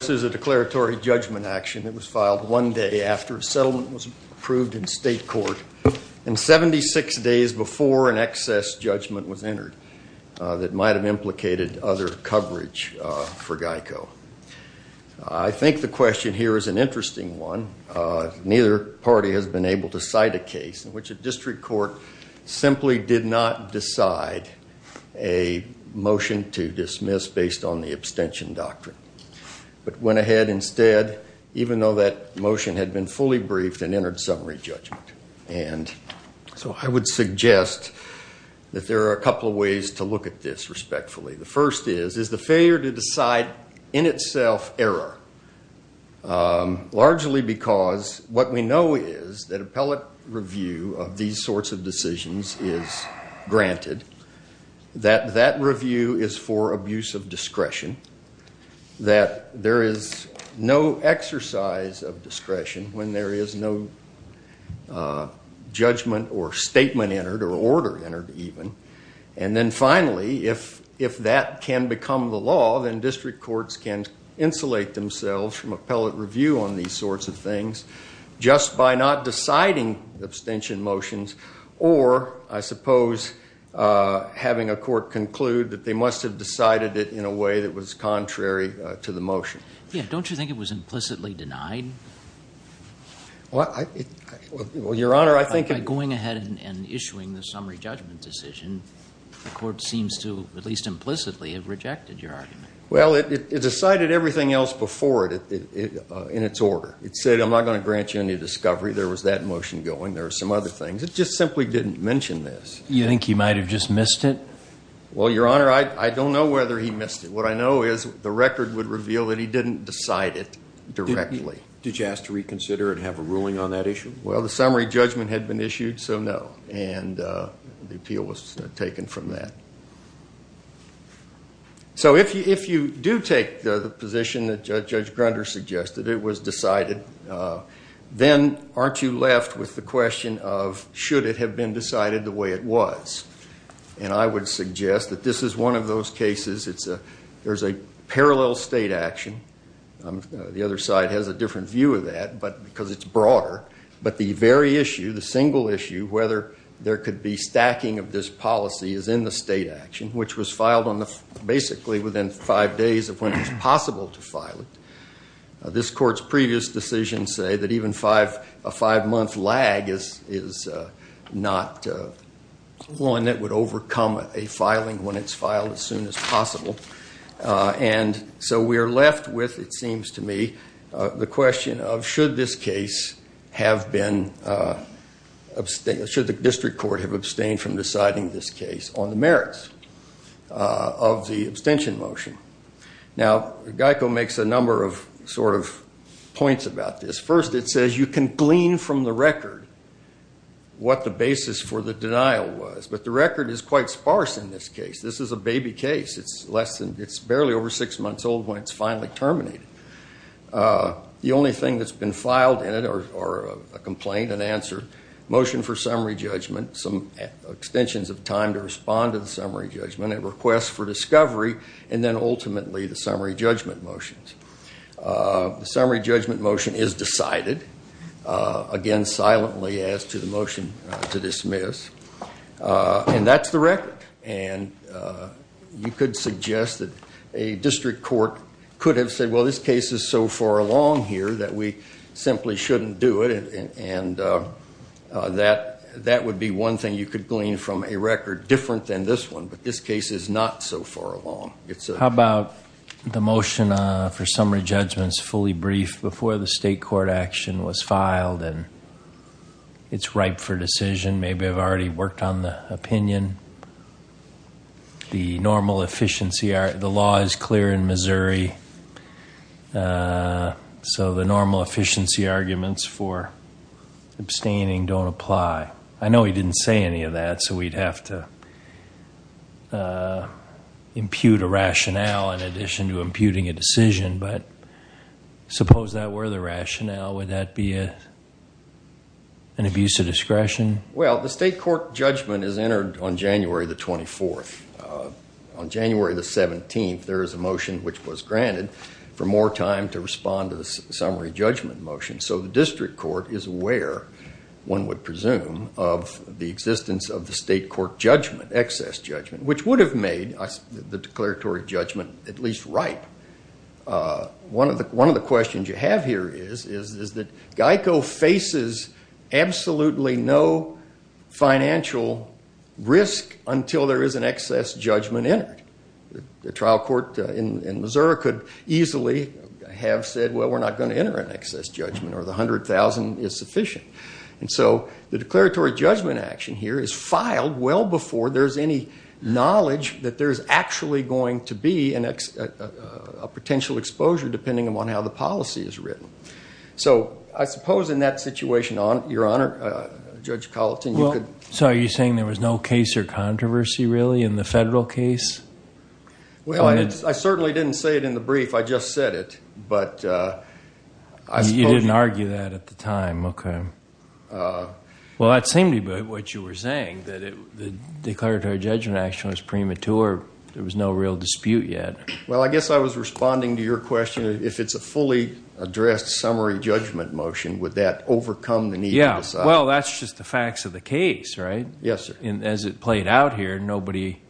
This is a declaratory judgment action that was filed one day after a settlement was approved in state court and 76 days before an excess judgment was entered that might have implicated other coverage for GEICO. I think the question here is an interesting one. Neither party has been able to cite a case in which a district court simply did not decide a motion to dismiss based on the abstention doctrine, but went ahead instead even though that motion had been fully briefed and entered summary judgment. I would suggest that there are a couple of ways to look at this respectfully. The first is, is the failure to decide in itself error? Largely because what we know is that appellate review of these sorts of decisions is granted. That that review is for abuse of discretion. That there is no exercise of discretion when there is no judgment or statement entered or order entered even. And then finally, if that can become the law, then district courts can insulate themselves from appellate review on these sorts of things just by not deciding abstention motions or, I suppose, having a court conclude that they must have decided it in a way that was contrary to the motion. Don't you think it was implicitly denied? Well, Your Honor, I think... By going ahead and issuing the summary judgment decision, the court seems to, at least implicitly, have rejected your argument. Well, it decided everything else before it in its order. It said, I'm not going to grant you any discovery. There was that motion going. There were some other things. It just simply didn't mention this. You think he might have just missed it? Well, Your Honor, I don't know whether he missed it. What I know is the record would reveal that he didn't decide it directly. Did you ask to reconsider and have a ruling on that issue? Well, the summary judgment had been issued, so no. And the appeal was taken from that. So if you do take the position that Judge Grunder suggested, it was decided, then aren't you left with the question of should it have been decided the way it was? And I would suggest that this is one of those cases. There's a parallel state action. The other side has a different view of that because it's broader. But the very issue, the single issue, whether there could be stacking of this policy is in the state action, which was filed basically within five days of when it was possible to file it. This court's previous decisions say that even a five-month lag is not one that would overcome a filing when it's filed as soon as possible. And so we are left with, it seems to me, the question of should the district court have abstained from deciding this case on the merits of the abstention motion? Now, Geico makes a number of points about this. First, it says you can glean from the record what the basis for the denial was. But the record is quite sparse in this case. This is a baby case. It's less than, it's barely over six months old when it's finally terminated. The only thing that's been filed in it, or a complaint, an answer, motion for summary judgment, some extensions of time to respond to the summary judgment, a request for discovery, and then ultimately the summary judgment motions. The summary judgment motion is decided, again, silently, as to the motion to dismiss. And that's the record. And you could suggest that a district court could have said, well, this case is so far along here that we simply shouldn't do it. And that would be one thing you could glean from a record different than this one. But this case is not so far along. How about the motion for summary judgments fully briefed before the state court action was filed and it's ripe for decision? Maybe I've already worked on the opinion. The normal efficiency, the law is clear in Missouri. So the normal efficiency arguments for abstaining don't apply. I know he didn't say any of that, so we'd have to impute a rationale in addition to imputing a decision. But suppose that were the rationale, would that be an abuse of discretion? Well, the state court judgment is entered on January the 24th. On January the 17th, there is a motion which was granted for more time to respond to the summary judgment motion. So the district court is aware, one would presume, of the existence of the state court judgment, excess judgment, which would have made the declaratory judgment at least ripe. One of the questions you have here is that GEICO faces absolutely no financial risk until there is an excess judgment entered. The trial court in Missouri could easily have said, well, we're not going to enter an excess judgment or the $100,000 is sufficient. And so the declaratory judgment action here is filed well before there's any knowledge that there's actually going to be a potential exposure, depending upon how the policy is written. So I suppose in that situation, Your Honor, Judge Colleton, you could... So are you saying there was no case or controversy, really, in the federal case? Well, I certainly didn't say it in the brief. I just said it. You didn't argue that at the time. Okay. Well, that seemed to be what you were saying, that the declaratory judgment action was premature. There was no real dispute yet. Well, I guess I was responding to your question. If it's a fully addressed summary judgment motion, would that overcome the need to decide? Well, that's just the facts of the case, right? Yes, sir. And as it played out here, nobody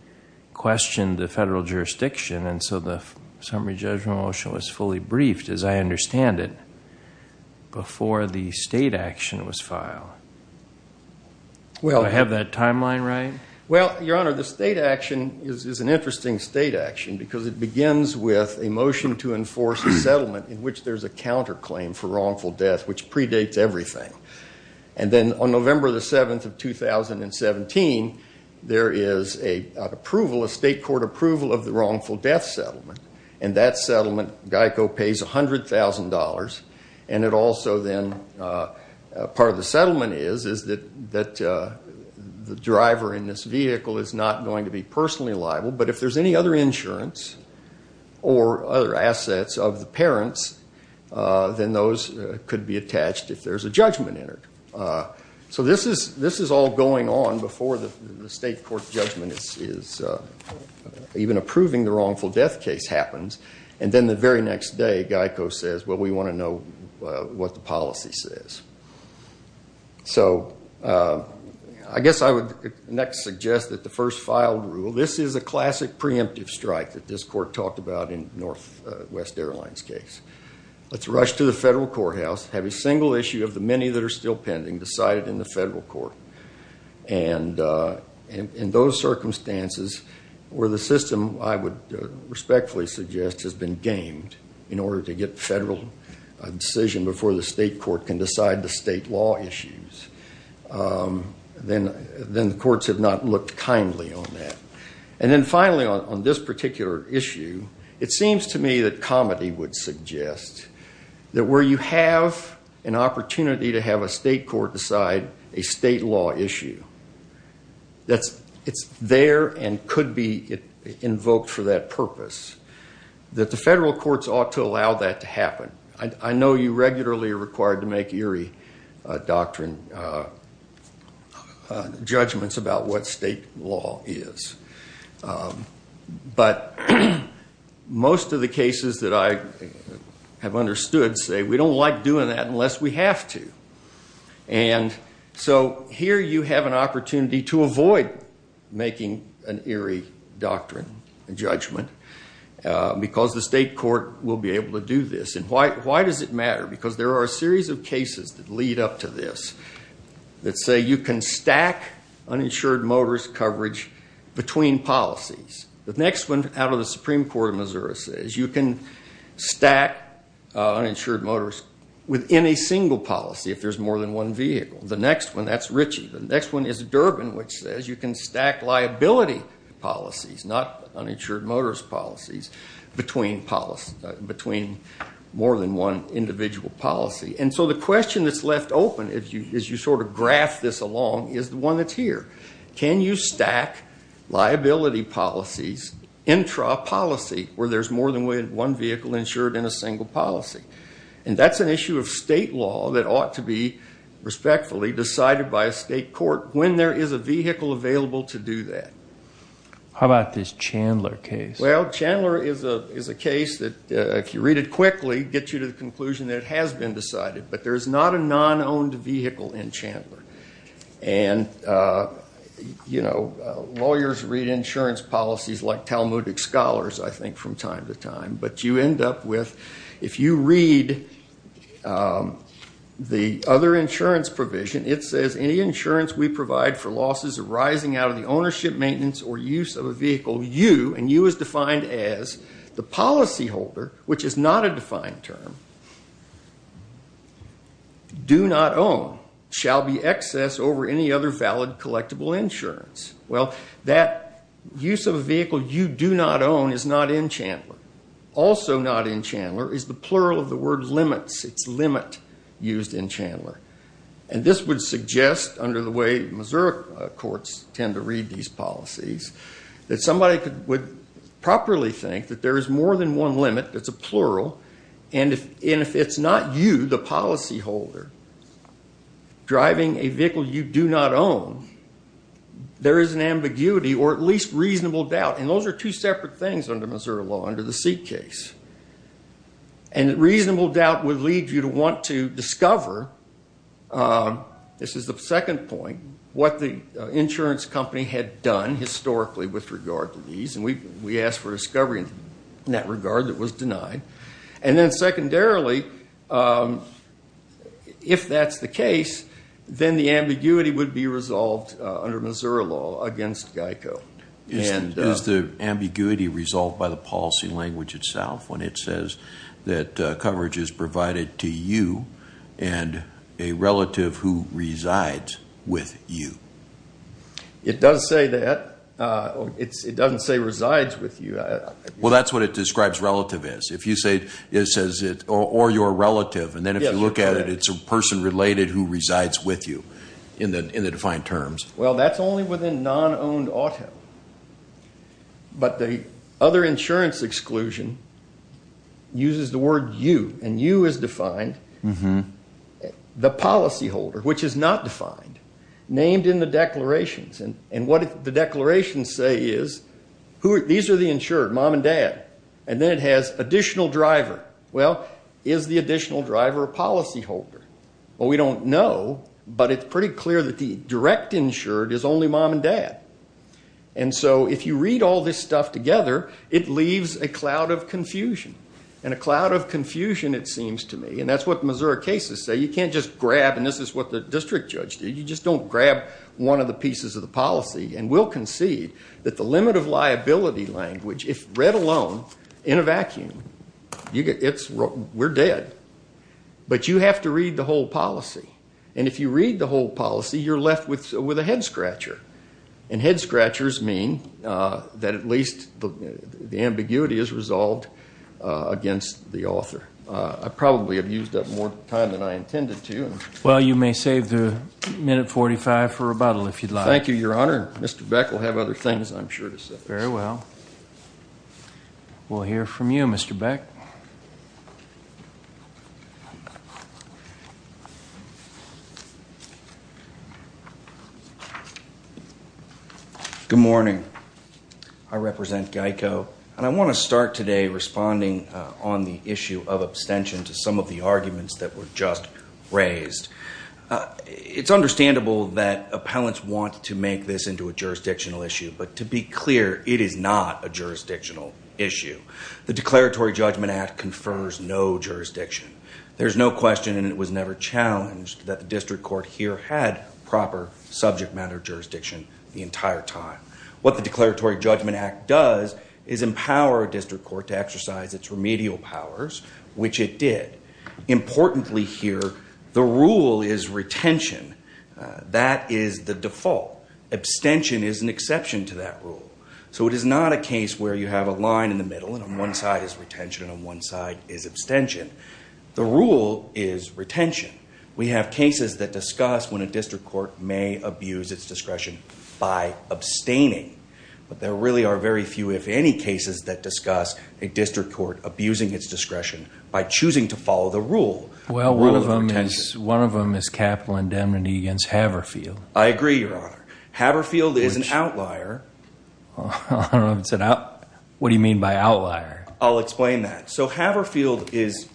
questioned the federal jurisdiction, and so the summary judgment motion was fully briefed, as I understand it, before the state action was filed. Do I have that timeline right? Well, Your Honor, the state action is an interesting state action because it begins with a motion to enforce a settlement in which there's a counterclaim for wrongful death, which predates everything. And then on November the 7th of 2017, there is an approval, a state court approval, of the wrongful death settlement. And that settlement, GEICO pays $100,000, and it also then, part of the settlement is, is that the driver in this vehicle is not going to be personally liable, but if there's any other insurance or other assets of the parents, then those could be attached if there's a judgment entered. So this is all going on before the state court judgment is even approving the wrongful death case happens. And then the very next day, GEICO says, well, we want to know what the policy says. So I guess I would next suggest that the first filed rule, this is a classic preemptive strike that this court talked about in Northwest Airlines' case. Let's rush to the federal courthouse, have a single issue of the many that are still pending decided in the federal court. And in those circumstances where the system, I would respectfully suggest, has been gamed in order to get federal decision before the state court can decide the state law issues, then the courts have not looked kindly on that. And then finally, on this particular issue, it seems to me that comedy would suggest that where you have an opportunity to have a state court decide a state law issue, that it's there and could be invoked for that purpose, that the federal courts ought to allow that to happen. I know you regularly are required to make eerie doctrine judgments about what state law is. But most of the cases that I have understood say we don't like doing that unless we have to. And so here you have an opportunity to avoid making an eerie doctrine judgment because the state court will be able to do this. And why does it matter? Because there are a series of cases that lead up to this that say you can stack uninsured motorist coverage between policies. The next one out of the Supreme Court of Missouri says you can stack uninsured motorists within a single policy if there's more than one vehicle. The next one, that's Ritchie. The next one is Durbin, which says you can stack liability policies, not uninsured motorist policies, between more than one individual policy. And so the question that's left open, as you sort of graph this along, is the one that's here. Can you stack liability policies intra-policy, where there's more than one vehicle insured in a single policy? And that's an issue of state law that ought to be respectfully decided by a state court when there is a vehicle available to do that. How about this Chandler case? Well, Chandler is a case that, if you read it quickly, gets you to the conclusion that it has been decided. But there's not a non-owned vehicle in Chandler. And, you know, lawyers read insurance policies like Talmudic scholars, I think, from time to time. But you end up with, if you read the other insurance provision, it says any insurance we provide for losses arising out of the ownership, maintenance, or use of a vehicle you, and you is defined as the policyholder, which is not a defined term, do not own, shall be excess over any other valid collectible insurance. Well, that use of a vehicle you do not own is not in Chandler. Also not in Chandler is the plural of the word limits. It's limit used in Chandler. And this would suggest, under the way Missouri courts tend to read these policies, that somebody would properly think that there is more than one limit that's a plural. And if it's not you, the policyholder, driving a vehicle you do not own, there is an ambiguity or at least reasonable doubt. And those are two separate things under Missouri law, under the Seed case. And reasonable doubt would lead you to want to discover, this is the second point, what the insurance company had done historically with regard to these. And we asked for discovery in that regard that was denied. And then secondarily, if that's the case, then the ambiguity would be resolved under Missouri law against GEICO. Is the ambiguity resolved by the policy language itself when it says that coverage is provided to you and a relative who resides with you? It does say that. It doesn't say resides with you. Well, that's what it describes relative as. If you say it says it, or your relative, and then if you look at it, it's a person related who resides with you in the defined terms. Well, that's only within non-owned auto. But the other insurance exclusion uses the word you. And you is defined. The policyholder, which is not defined, named in the declarations. And what the declarations say is, these are the insured, mom and dad. And then it has additional driver. Well, is the additional driver a policyholder? Well, we don't know, but it's pretty clear that the direct insured is only mom and dad. And so if you read all this stuff together, it leaves a cloud of confusion. And a cloud of confusion, it seems to me, and that's what Missouri cases say. You can't just grab, and this is what the district judge did, you just don't grab one of the pieces of the policy. And we'll concede that the limit of liability language, if read alone in a vacuum, we're dead. But you have to read the whole policy. And if you read the whole policy, you're left with a head scratcher. And head scratchers mean that at least the ambiguity is resolved against the author. I probably have used up more time than I intended to. Well, you may save the minute 45 for rebuttal, if you'd like. Thank you, Your Honor. Mr. Beck will have other things, I'm sure, to say. Very well. We'll hear from you, Mr. Beck. Good morning. I represent GEICO, and I want to start today responding on the issue of abstention to some of the arguments that were just raised. It's understandable that appellants want to make this into a jurisdictional issue, but to be clear, it is not a jurisdictional issue. The Declaratory Judgment Act confers no jurisdiction. There's no question, and it was never challenged, that the district court here had proper subject matter jurisdiction the entire time. What the Declaratory Judgment Act does is empower a district court to exercise its remedial powers, which it did. Importantly here, the rule is retention. That is the default. Abstention is an exception to that rule. So it is not a case where you have a line in the middle, and on one side is retention and on one side is abstention. The rule is retention. We have cases that discuss when a district court may abuse its discretion by abstaining, but there really are very few, if any, cases that discuss a district court abusing its discretion by choosing to follow the rule. Well, one of them is capital indemnity against Haverfield. I agree, Your Honor. Haverfield is an outlier. What do you mean by outlier? I'll explain that. So Haverfield is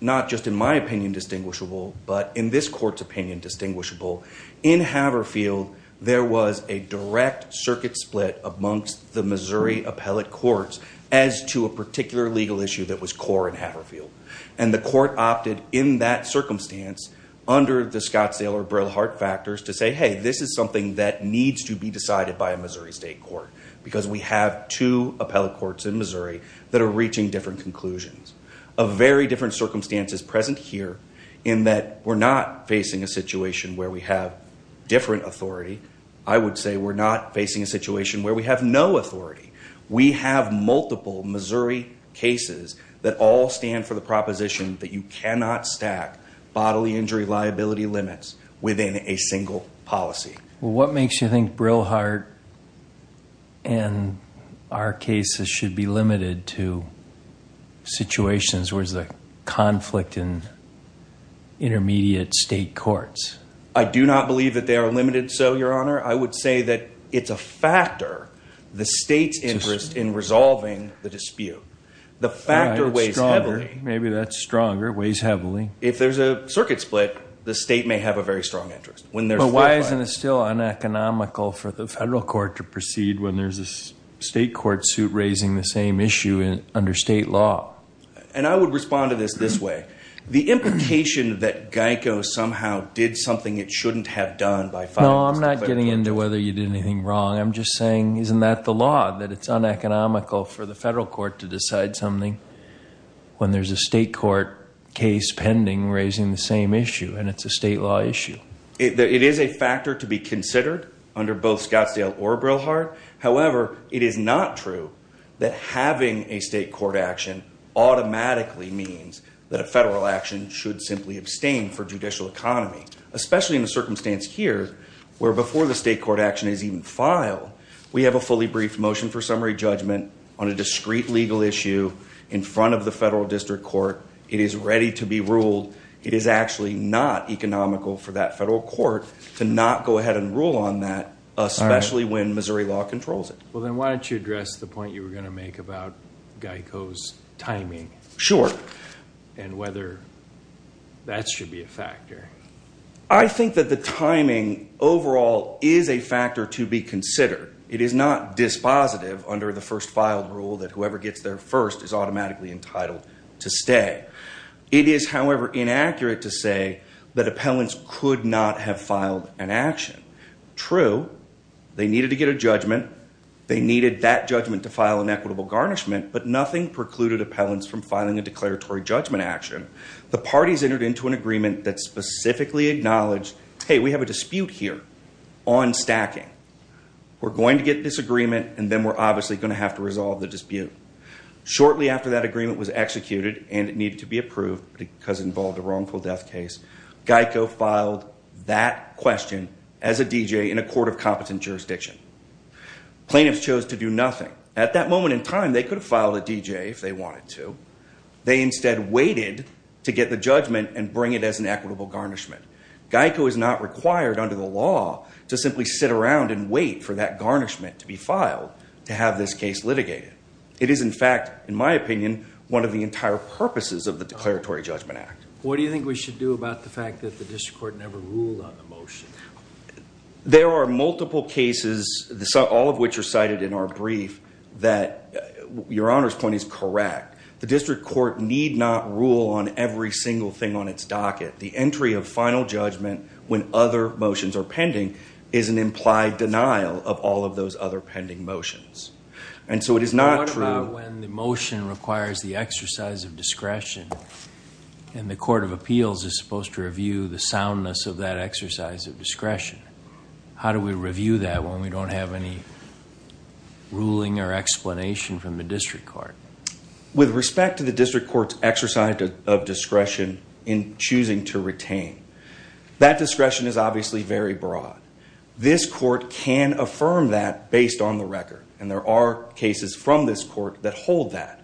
not just, in my opinion, distinguishable, but in this court's opinion, distinguishable. In Haverfield, there was a direct circuit split amongst the Missouri appellate courts as to a particular legal issue that was core in Haverfield, and the court opted in that circumstance, under the Scottsdale or Brill Hart factors, to say, hey, this is something that needs to be decided by a Missouri state court, because we have two appellate courts in Missouri that are reaching different conclusions. A very different circumstance is present here in that we're not facing a situation where we have different authority. I would say we're not facing a situation where we have no authority. We have multiple Missouri cases that all stand for the proposition that you cannot stack bodily injury liability limits within a single policy. Well, what makes you think Brill Hart and our cases should be limited to situations where there's a conflict in intermediate state courts? I do not believe that they are limited so, Your Honor. I would say that it's a factor, the state's interest in resolving the dispute. The factor weighs heavily. Maybe that's stronger. It weighs heavily. If there's a circuit split, the state may have a very strong interest. But why isn't it still uneconomical for the federal court to proceed when there's a state court suit raising the same issue under state law? And I would respond to this this way. The implication that Geico somehow did something it shouldn't have done by filing this case. No, I'm not getting into whether you did anything wrong. I'm just saying isn't that the law, that it's uneconomical for the federal court to decide something when there's a state court case pending raising the same issue and it's a state law issue? It is a factor to be considered under both Scottsdale or Brill Hart. However, it is not true that having a state court action automatically means that a federal action should simply abstain for judicial economy. Especially in the circumstance here where before the state court action is even filed, we have a fully briefed motion for summary judgment on a discreet legal issue in front of the federal district court. It is ready to be ruled. It is actually not economical for that federal court to not go ahead and rule on that, especially when Missouri law controls it. Well, then why don't you address the point you were going to make about Geico's timing? Sure. And whether that should be a factor. I think that the timing overall is a factor to be considered. It is not dispositive under the first filed rule that whoever gets there first is automatically entitled to stay. It is, however, inaccurate to say that appellants could not have filed an action. True, they needed to get a judgment. They needed that judgment to file an equitable garnishment, but nothing precluded appellants from filing a declaratory judgment action. The parties entered into an agreement that specifically acknowledged, hey, we have a dispute here on stacking. We're going to get this agreement, and then we're obviously going to have to resolve the dispute. Shortly after that agreement was executed and it needed to be approved because it involved a wrongful death case, Geico filed that question as a D.J. in a court of competent jurisdiction. Plaintiffs chose to do nothing. At that moment in time, they could have filed a D.J. if they wanted to. They instead waited to get the judgment and bring it as an equitable garnishment. Geico is not required under the law to simply sit around and wait for that garnishment to be filed to have this case litigated. It is, in fact, in my opinion, one of the entire purposes of the Declaratory Judgment Act. What do you think we should do about the fact that the district court never ruled on the motion? There are multiple cases, all of which are cited in our brief, that your Honor's point is correct. The district court need not rule on every single thing on its docket. The entry of final judgment when other motions are pending is an implied denial of all of those other pending motions. What about when the motion requires the exercise of discretion and the court of appeals is supposed to review the soundness of that exercise of discretion? How do we review that when we don't have any ruling or explanation from the district court? With respect to the district court's exercise of discretion in choosing to retain, that discretion is obviously very broad. This court can affirm that based on the record, and there are cases from this court that hold that,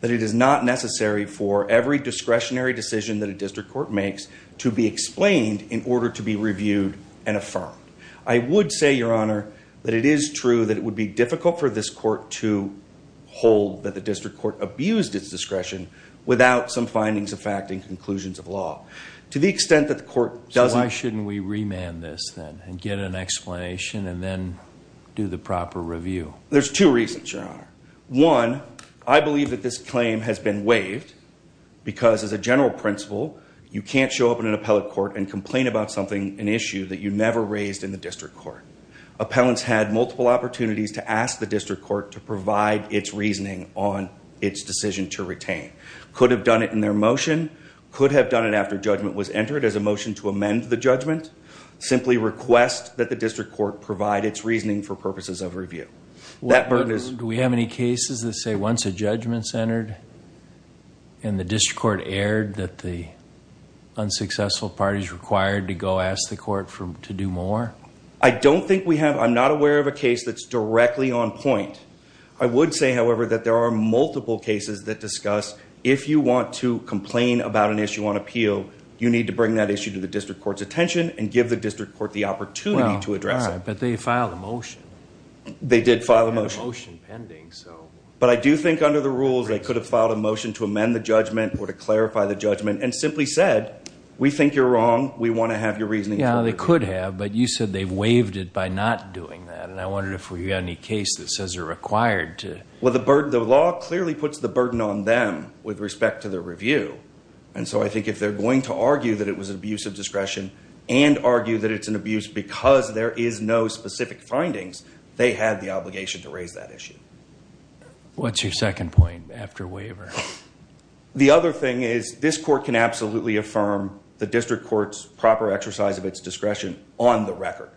that it is not necessary for every discretionary decision that a district court makes to be explained in order to be reviewed and affirmed. I would say, your Honor, that it is true that it would be difficult for this court to hold that the district court abused its discretion without some findings of fact and conclusions of law. To the extent that the court doesn't... So why shouldn't we remand this then and get an explanation and then do the proper review? There's two reasons, your Honor. One, I believe that this claim has been waived because, as a general principle, you can't show up in an appellate court and complain about something, an issue, that you never raised in the district court. Appellants had multiple opportunities to ask the district court to provide its reasoning on its decision to retain. Could have done it in their motion. Could have done it after judgment was entered as a motion to amend the judgment. Simply request that the district court provide its reasoning for purposes of review. Do we have any cases that say once a judgment's entered and the district court erred that the unsuccessful parties required to go ask the court to do more? I don't think we have. I'm not aware of a case that's directly on point. I would say, however, that there are multiple cases that discuss if you want to complain about an issue on appeal, you need to bring that issue to the district court's attention and give the district court the opportunity to address it. But they filed a motion. They did file a motion. But I do think under the rules they could have filed a motion to amend the judgment or to clarify the judgment and simply said, we think you're wrong, we want to have your reasoning. Yeah, they could have, but you said they've waived it by not doing that. And I wonder if we've got any case that says you're required to. Well, the law clearly puts the burden on them with respect to their review. And so I think if they're going to argue that it was an abuse of discretion and argue that it's an abuse because there is no specific findings, they have the obligation to raise that issue. What's your second point after waiver? The other thing is this court can absolutely affirm the district court's proper exercise of its discretion on the record.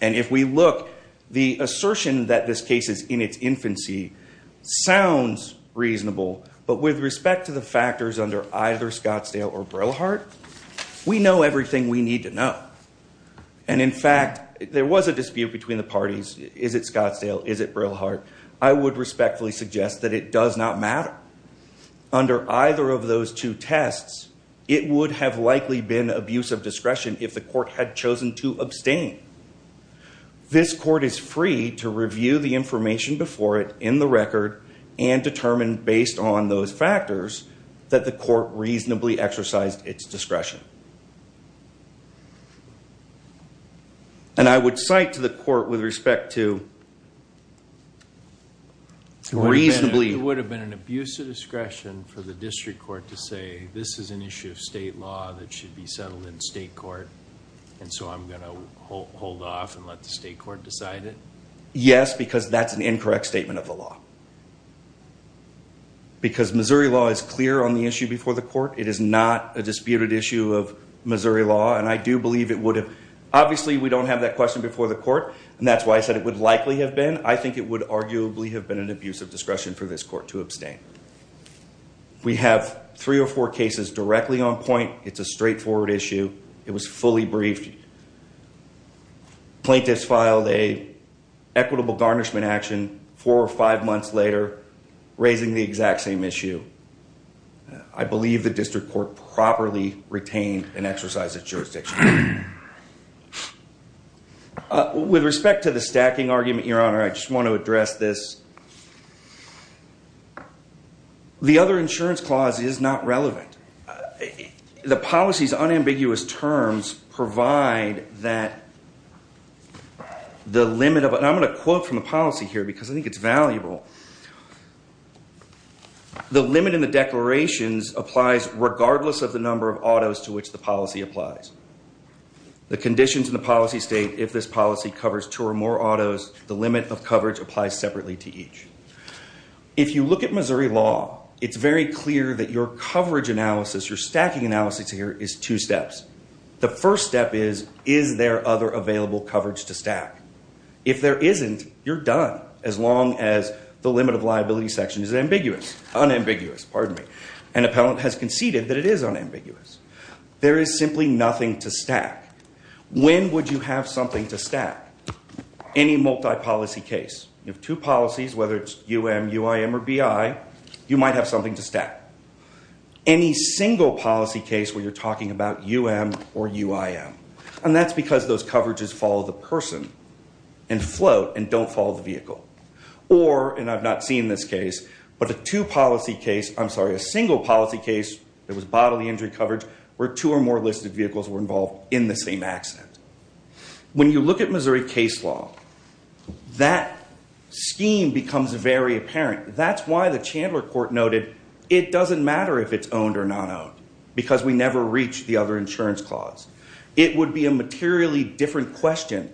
And if we look, the assertion that this case is in its infancy sounds reasonable. But with respect to the factors under either Scottsdale or Brillhart, we know everything we need to know. And in fact, there was a dispute between the parties. Is it Scottsdale? Is it Brillhart? I would respectfully suggest that it does not matter. Under either of those two tests, it would have likely been abuse of discretion if the court had chosen to abstain. This court is free to review the information before it in the record and determine based on those factors that the court reasonably exercised its discretion. And I would cite to the court with respect to reasonably... It would have been an abuse of discretion for the district court to say, this is an issue of state law that should be settled in state court. And so I'm going to hold off and let the state court decide it? Yes, because that's an incorrect statement of the law. Because Missouri law is clear on the issue before the court. It is not a disputed issue of Missouri law. And I do believe it would have... Obviously, we don't have that question before the court. And that's why I said it would likely have been. I think it would arguably have been an abuse of discretion for this court to abstain. We have three or four cases directly on point. It's a straightforward issue. It was fully briefed. Plaintiffs filed an equitable garnishment action four or five months later, raising the exact same issue. I believe the district court properly retained and exercised its jurisdiction. With respect to the stacking argument, Your Honor, I just want to address this. The other insurance clause is not relevant. The policy's unambiguous terms provide that the limit of... And I'm going to quote from the policy here because I think it's valuable. The limit in the declarations applies regardless of the number of autos to which the policy applies. The conditions in the policy state, if this policy covers two or more autos, the limit of coverage applies separately to each. If you look at Missouri law, it's very clear that your coverage analysis, your stacking analysis here is two steps. The first step is, is there other available coverage to stack? If there isn't, you're done as long as the limit of liability section is ambiguous. Unambiguous, pardon me. An appellant has conceded that it is unambiguous. There is simply nothing to stack. When would you have something to stack? Any multi-policy case. You have two policies, whether it's UM, UIM, or BI, you might have something to stack. Any single policy case where you're talking about UM or UIM. And that's because those coverages follow the person and float and don't follow the vehicle. Or, and I've not seen this case, but a two-policy case, I'm sorry, a single policy case that was bodily injury coverage, where two or more listed vehicles were involved in the same accident. When you look at Missouri case law, that scheme becomes very apparent. That's why the Chandler court noted it doesn't matter if it's owned or not owned, because we never reach the other insurance clause. It would be a materially different question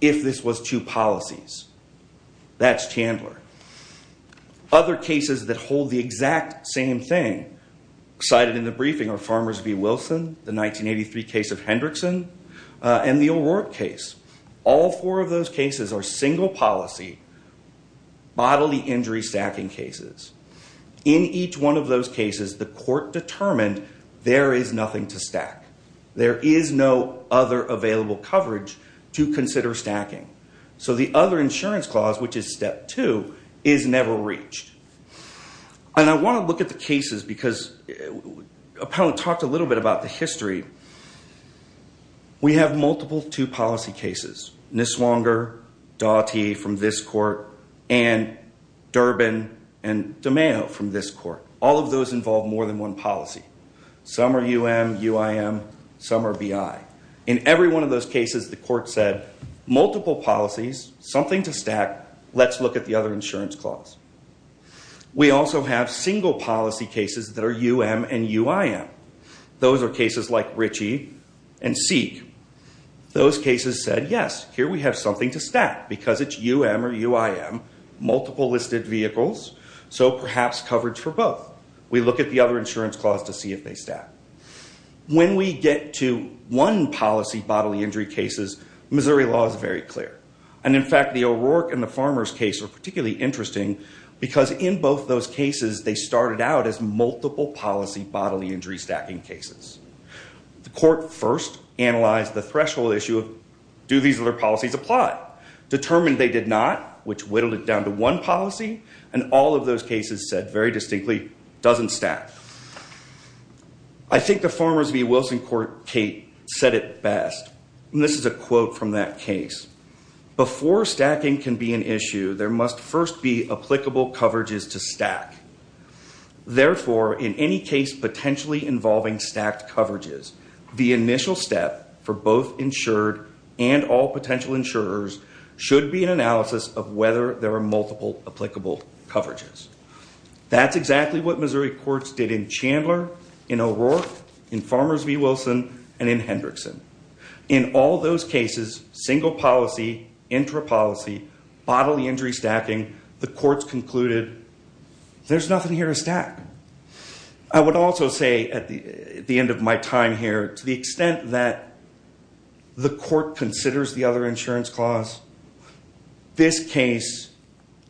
if this was two policies. That's Chandler. Other cases that hold the exact same thing cited in the briefing are Farmers v. Wilson, the 1983 case of Hendrickson, and the O'Rourke case. All four of those cases are single policy bodily injury stacking cases. In each one of those cases, the court determined there is nothing to stack. There is no other available coverage to consider stacking. So the other insurance clause, which is step two, is never reached. I want to look at the cases because Appellant talked a little bit about the history. We have multiple two-policy cases, Niswonger, Daugherty from this court, and Durbin and DiMeo from this court. All of those involve more than one policy. Some are UM, UIM, some are BI. In every one of those cases, the court said, multiple policies, something to stack, let's look at the other insurance clause. We also have single policy cases that are UM and UIM. Those are cases like Ritchie and Seek. Those cases said, yes, here we have something to stack because it's UM or UIM, multiple listed vehicles, so perhaps coverage for both. We look at the other insurance clause to see if they stack. When we get to one policy bodily injury cases, Missouri law is very clear. And in fact, the O'Rourke and the Farmers case are particularly interesting because in both those cases, they started out as multiple policy bodily injury stacking cases. The court first analyzed the threshold issue of, do these other policies apply? Determined they did not, which whittled it down to one policy, and all of those cases said very distinctly, doesn't stack. I think the Farmers v. Wilson court, Kate, said it best. And this is a quote from that case. Before stacking can be an issue, there must first be applicable coverages to stack. Therefore, in any case potentially involving stacked coverages, the initial step for both insured and all potential insurers should be an analysis of whether there are multiple applicable coverages. That's exactly what Missouri courts did in Chandler, in O'Rourke, in Farmers v. Wilson, and in Hendrickson. In all those cases, single policy, intra-policy, bodily injury stacking, the courts concluded, there's nothing here to stack. I would also say at the end of my time here, to the extent that the court considers the other insurance clause, this case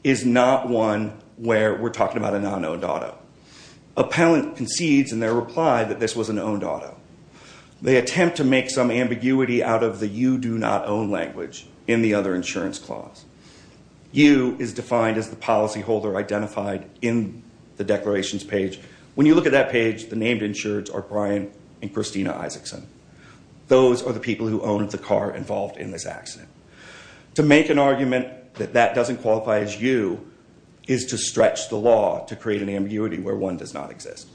is not one where we're talking about a non-owned auto. Appellant concedes in their reply that this was an owned auto. They attempt to make some ambiguity out of the you do not own language in the other insurance clause. You is defined as the policyholder identified in the declarations page. When you look at that page, the named insureds are Brian and Christina Isaacson. Those are the people who owned the car involved in this accident. To make an argument that that doesn't qualify as you is to stretch the law to create an ambiguity where one does not exist.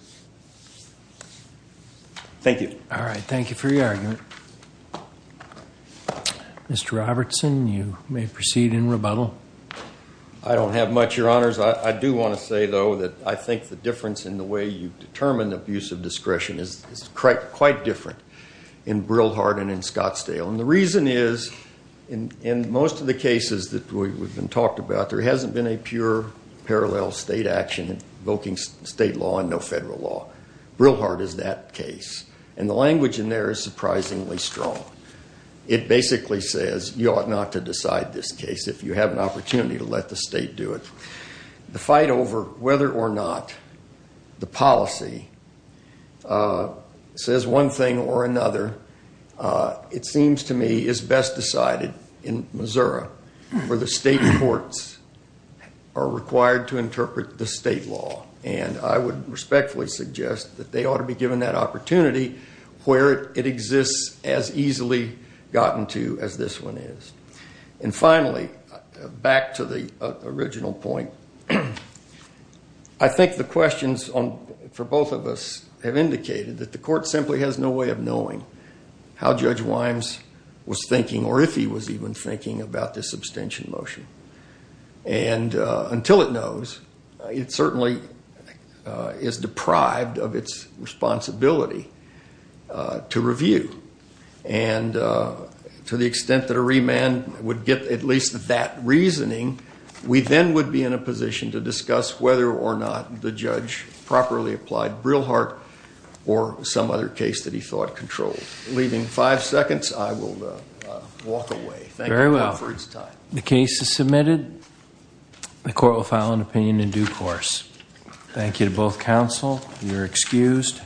Thank you. All right. Thank you for your argument. Mr. Robertson, you may proceed in rebuttal. I don't have much, your honors. I do want to say, though, that I think the difference in the way you determine abuse of discretion is quite different in Brillhart and in Scottsdale. And the reason is, in most of the cases that we've been talking about, there hasn't been a pure parallel state action invoking state law or federal law. Brillhart is that case. And the language in there is surprisingly strong. It basically says you ought not to decide this case if you have an opportunity to let the state do it. The fight over whether or not the policy says one thing or another, it seems to me, is best decided in Missouri, where the state courts are required to interpret the state law. And I would respectfully suggest that they ought to be given that opportunity where it exists as easily gotten to as this one is. And finally, back to the original point, I think the questions for both of us have indicated that the court simply has no way of knowing how Judge Wimes was thinking or if he was even thinking about this abstention motion. And until it knows, it certainly is deprived of its responsibility to review. And to the extent that a remand would get at least that reasoning, we then would be in a position to discuss whether or not the judge properly applied Brillhart or some other case that he thought controlled. Leaving five seconds, I will walk away. Thank you both for your time. The motion is submitted. The court will file an opinion in due course. Thank you to both counsel. You are excused.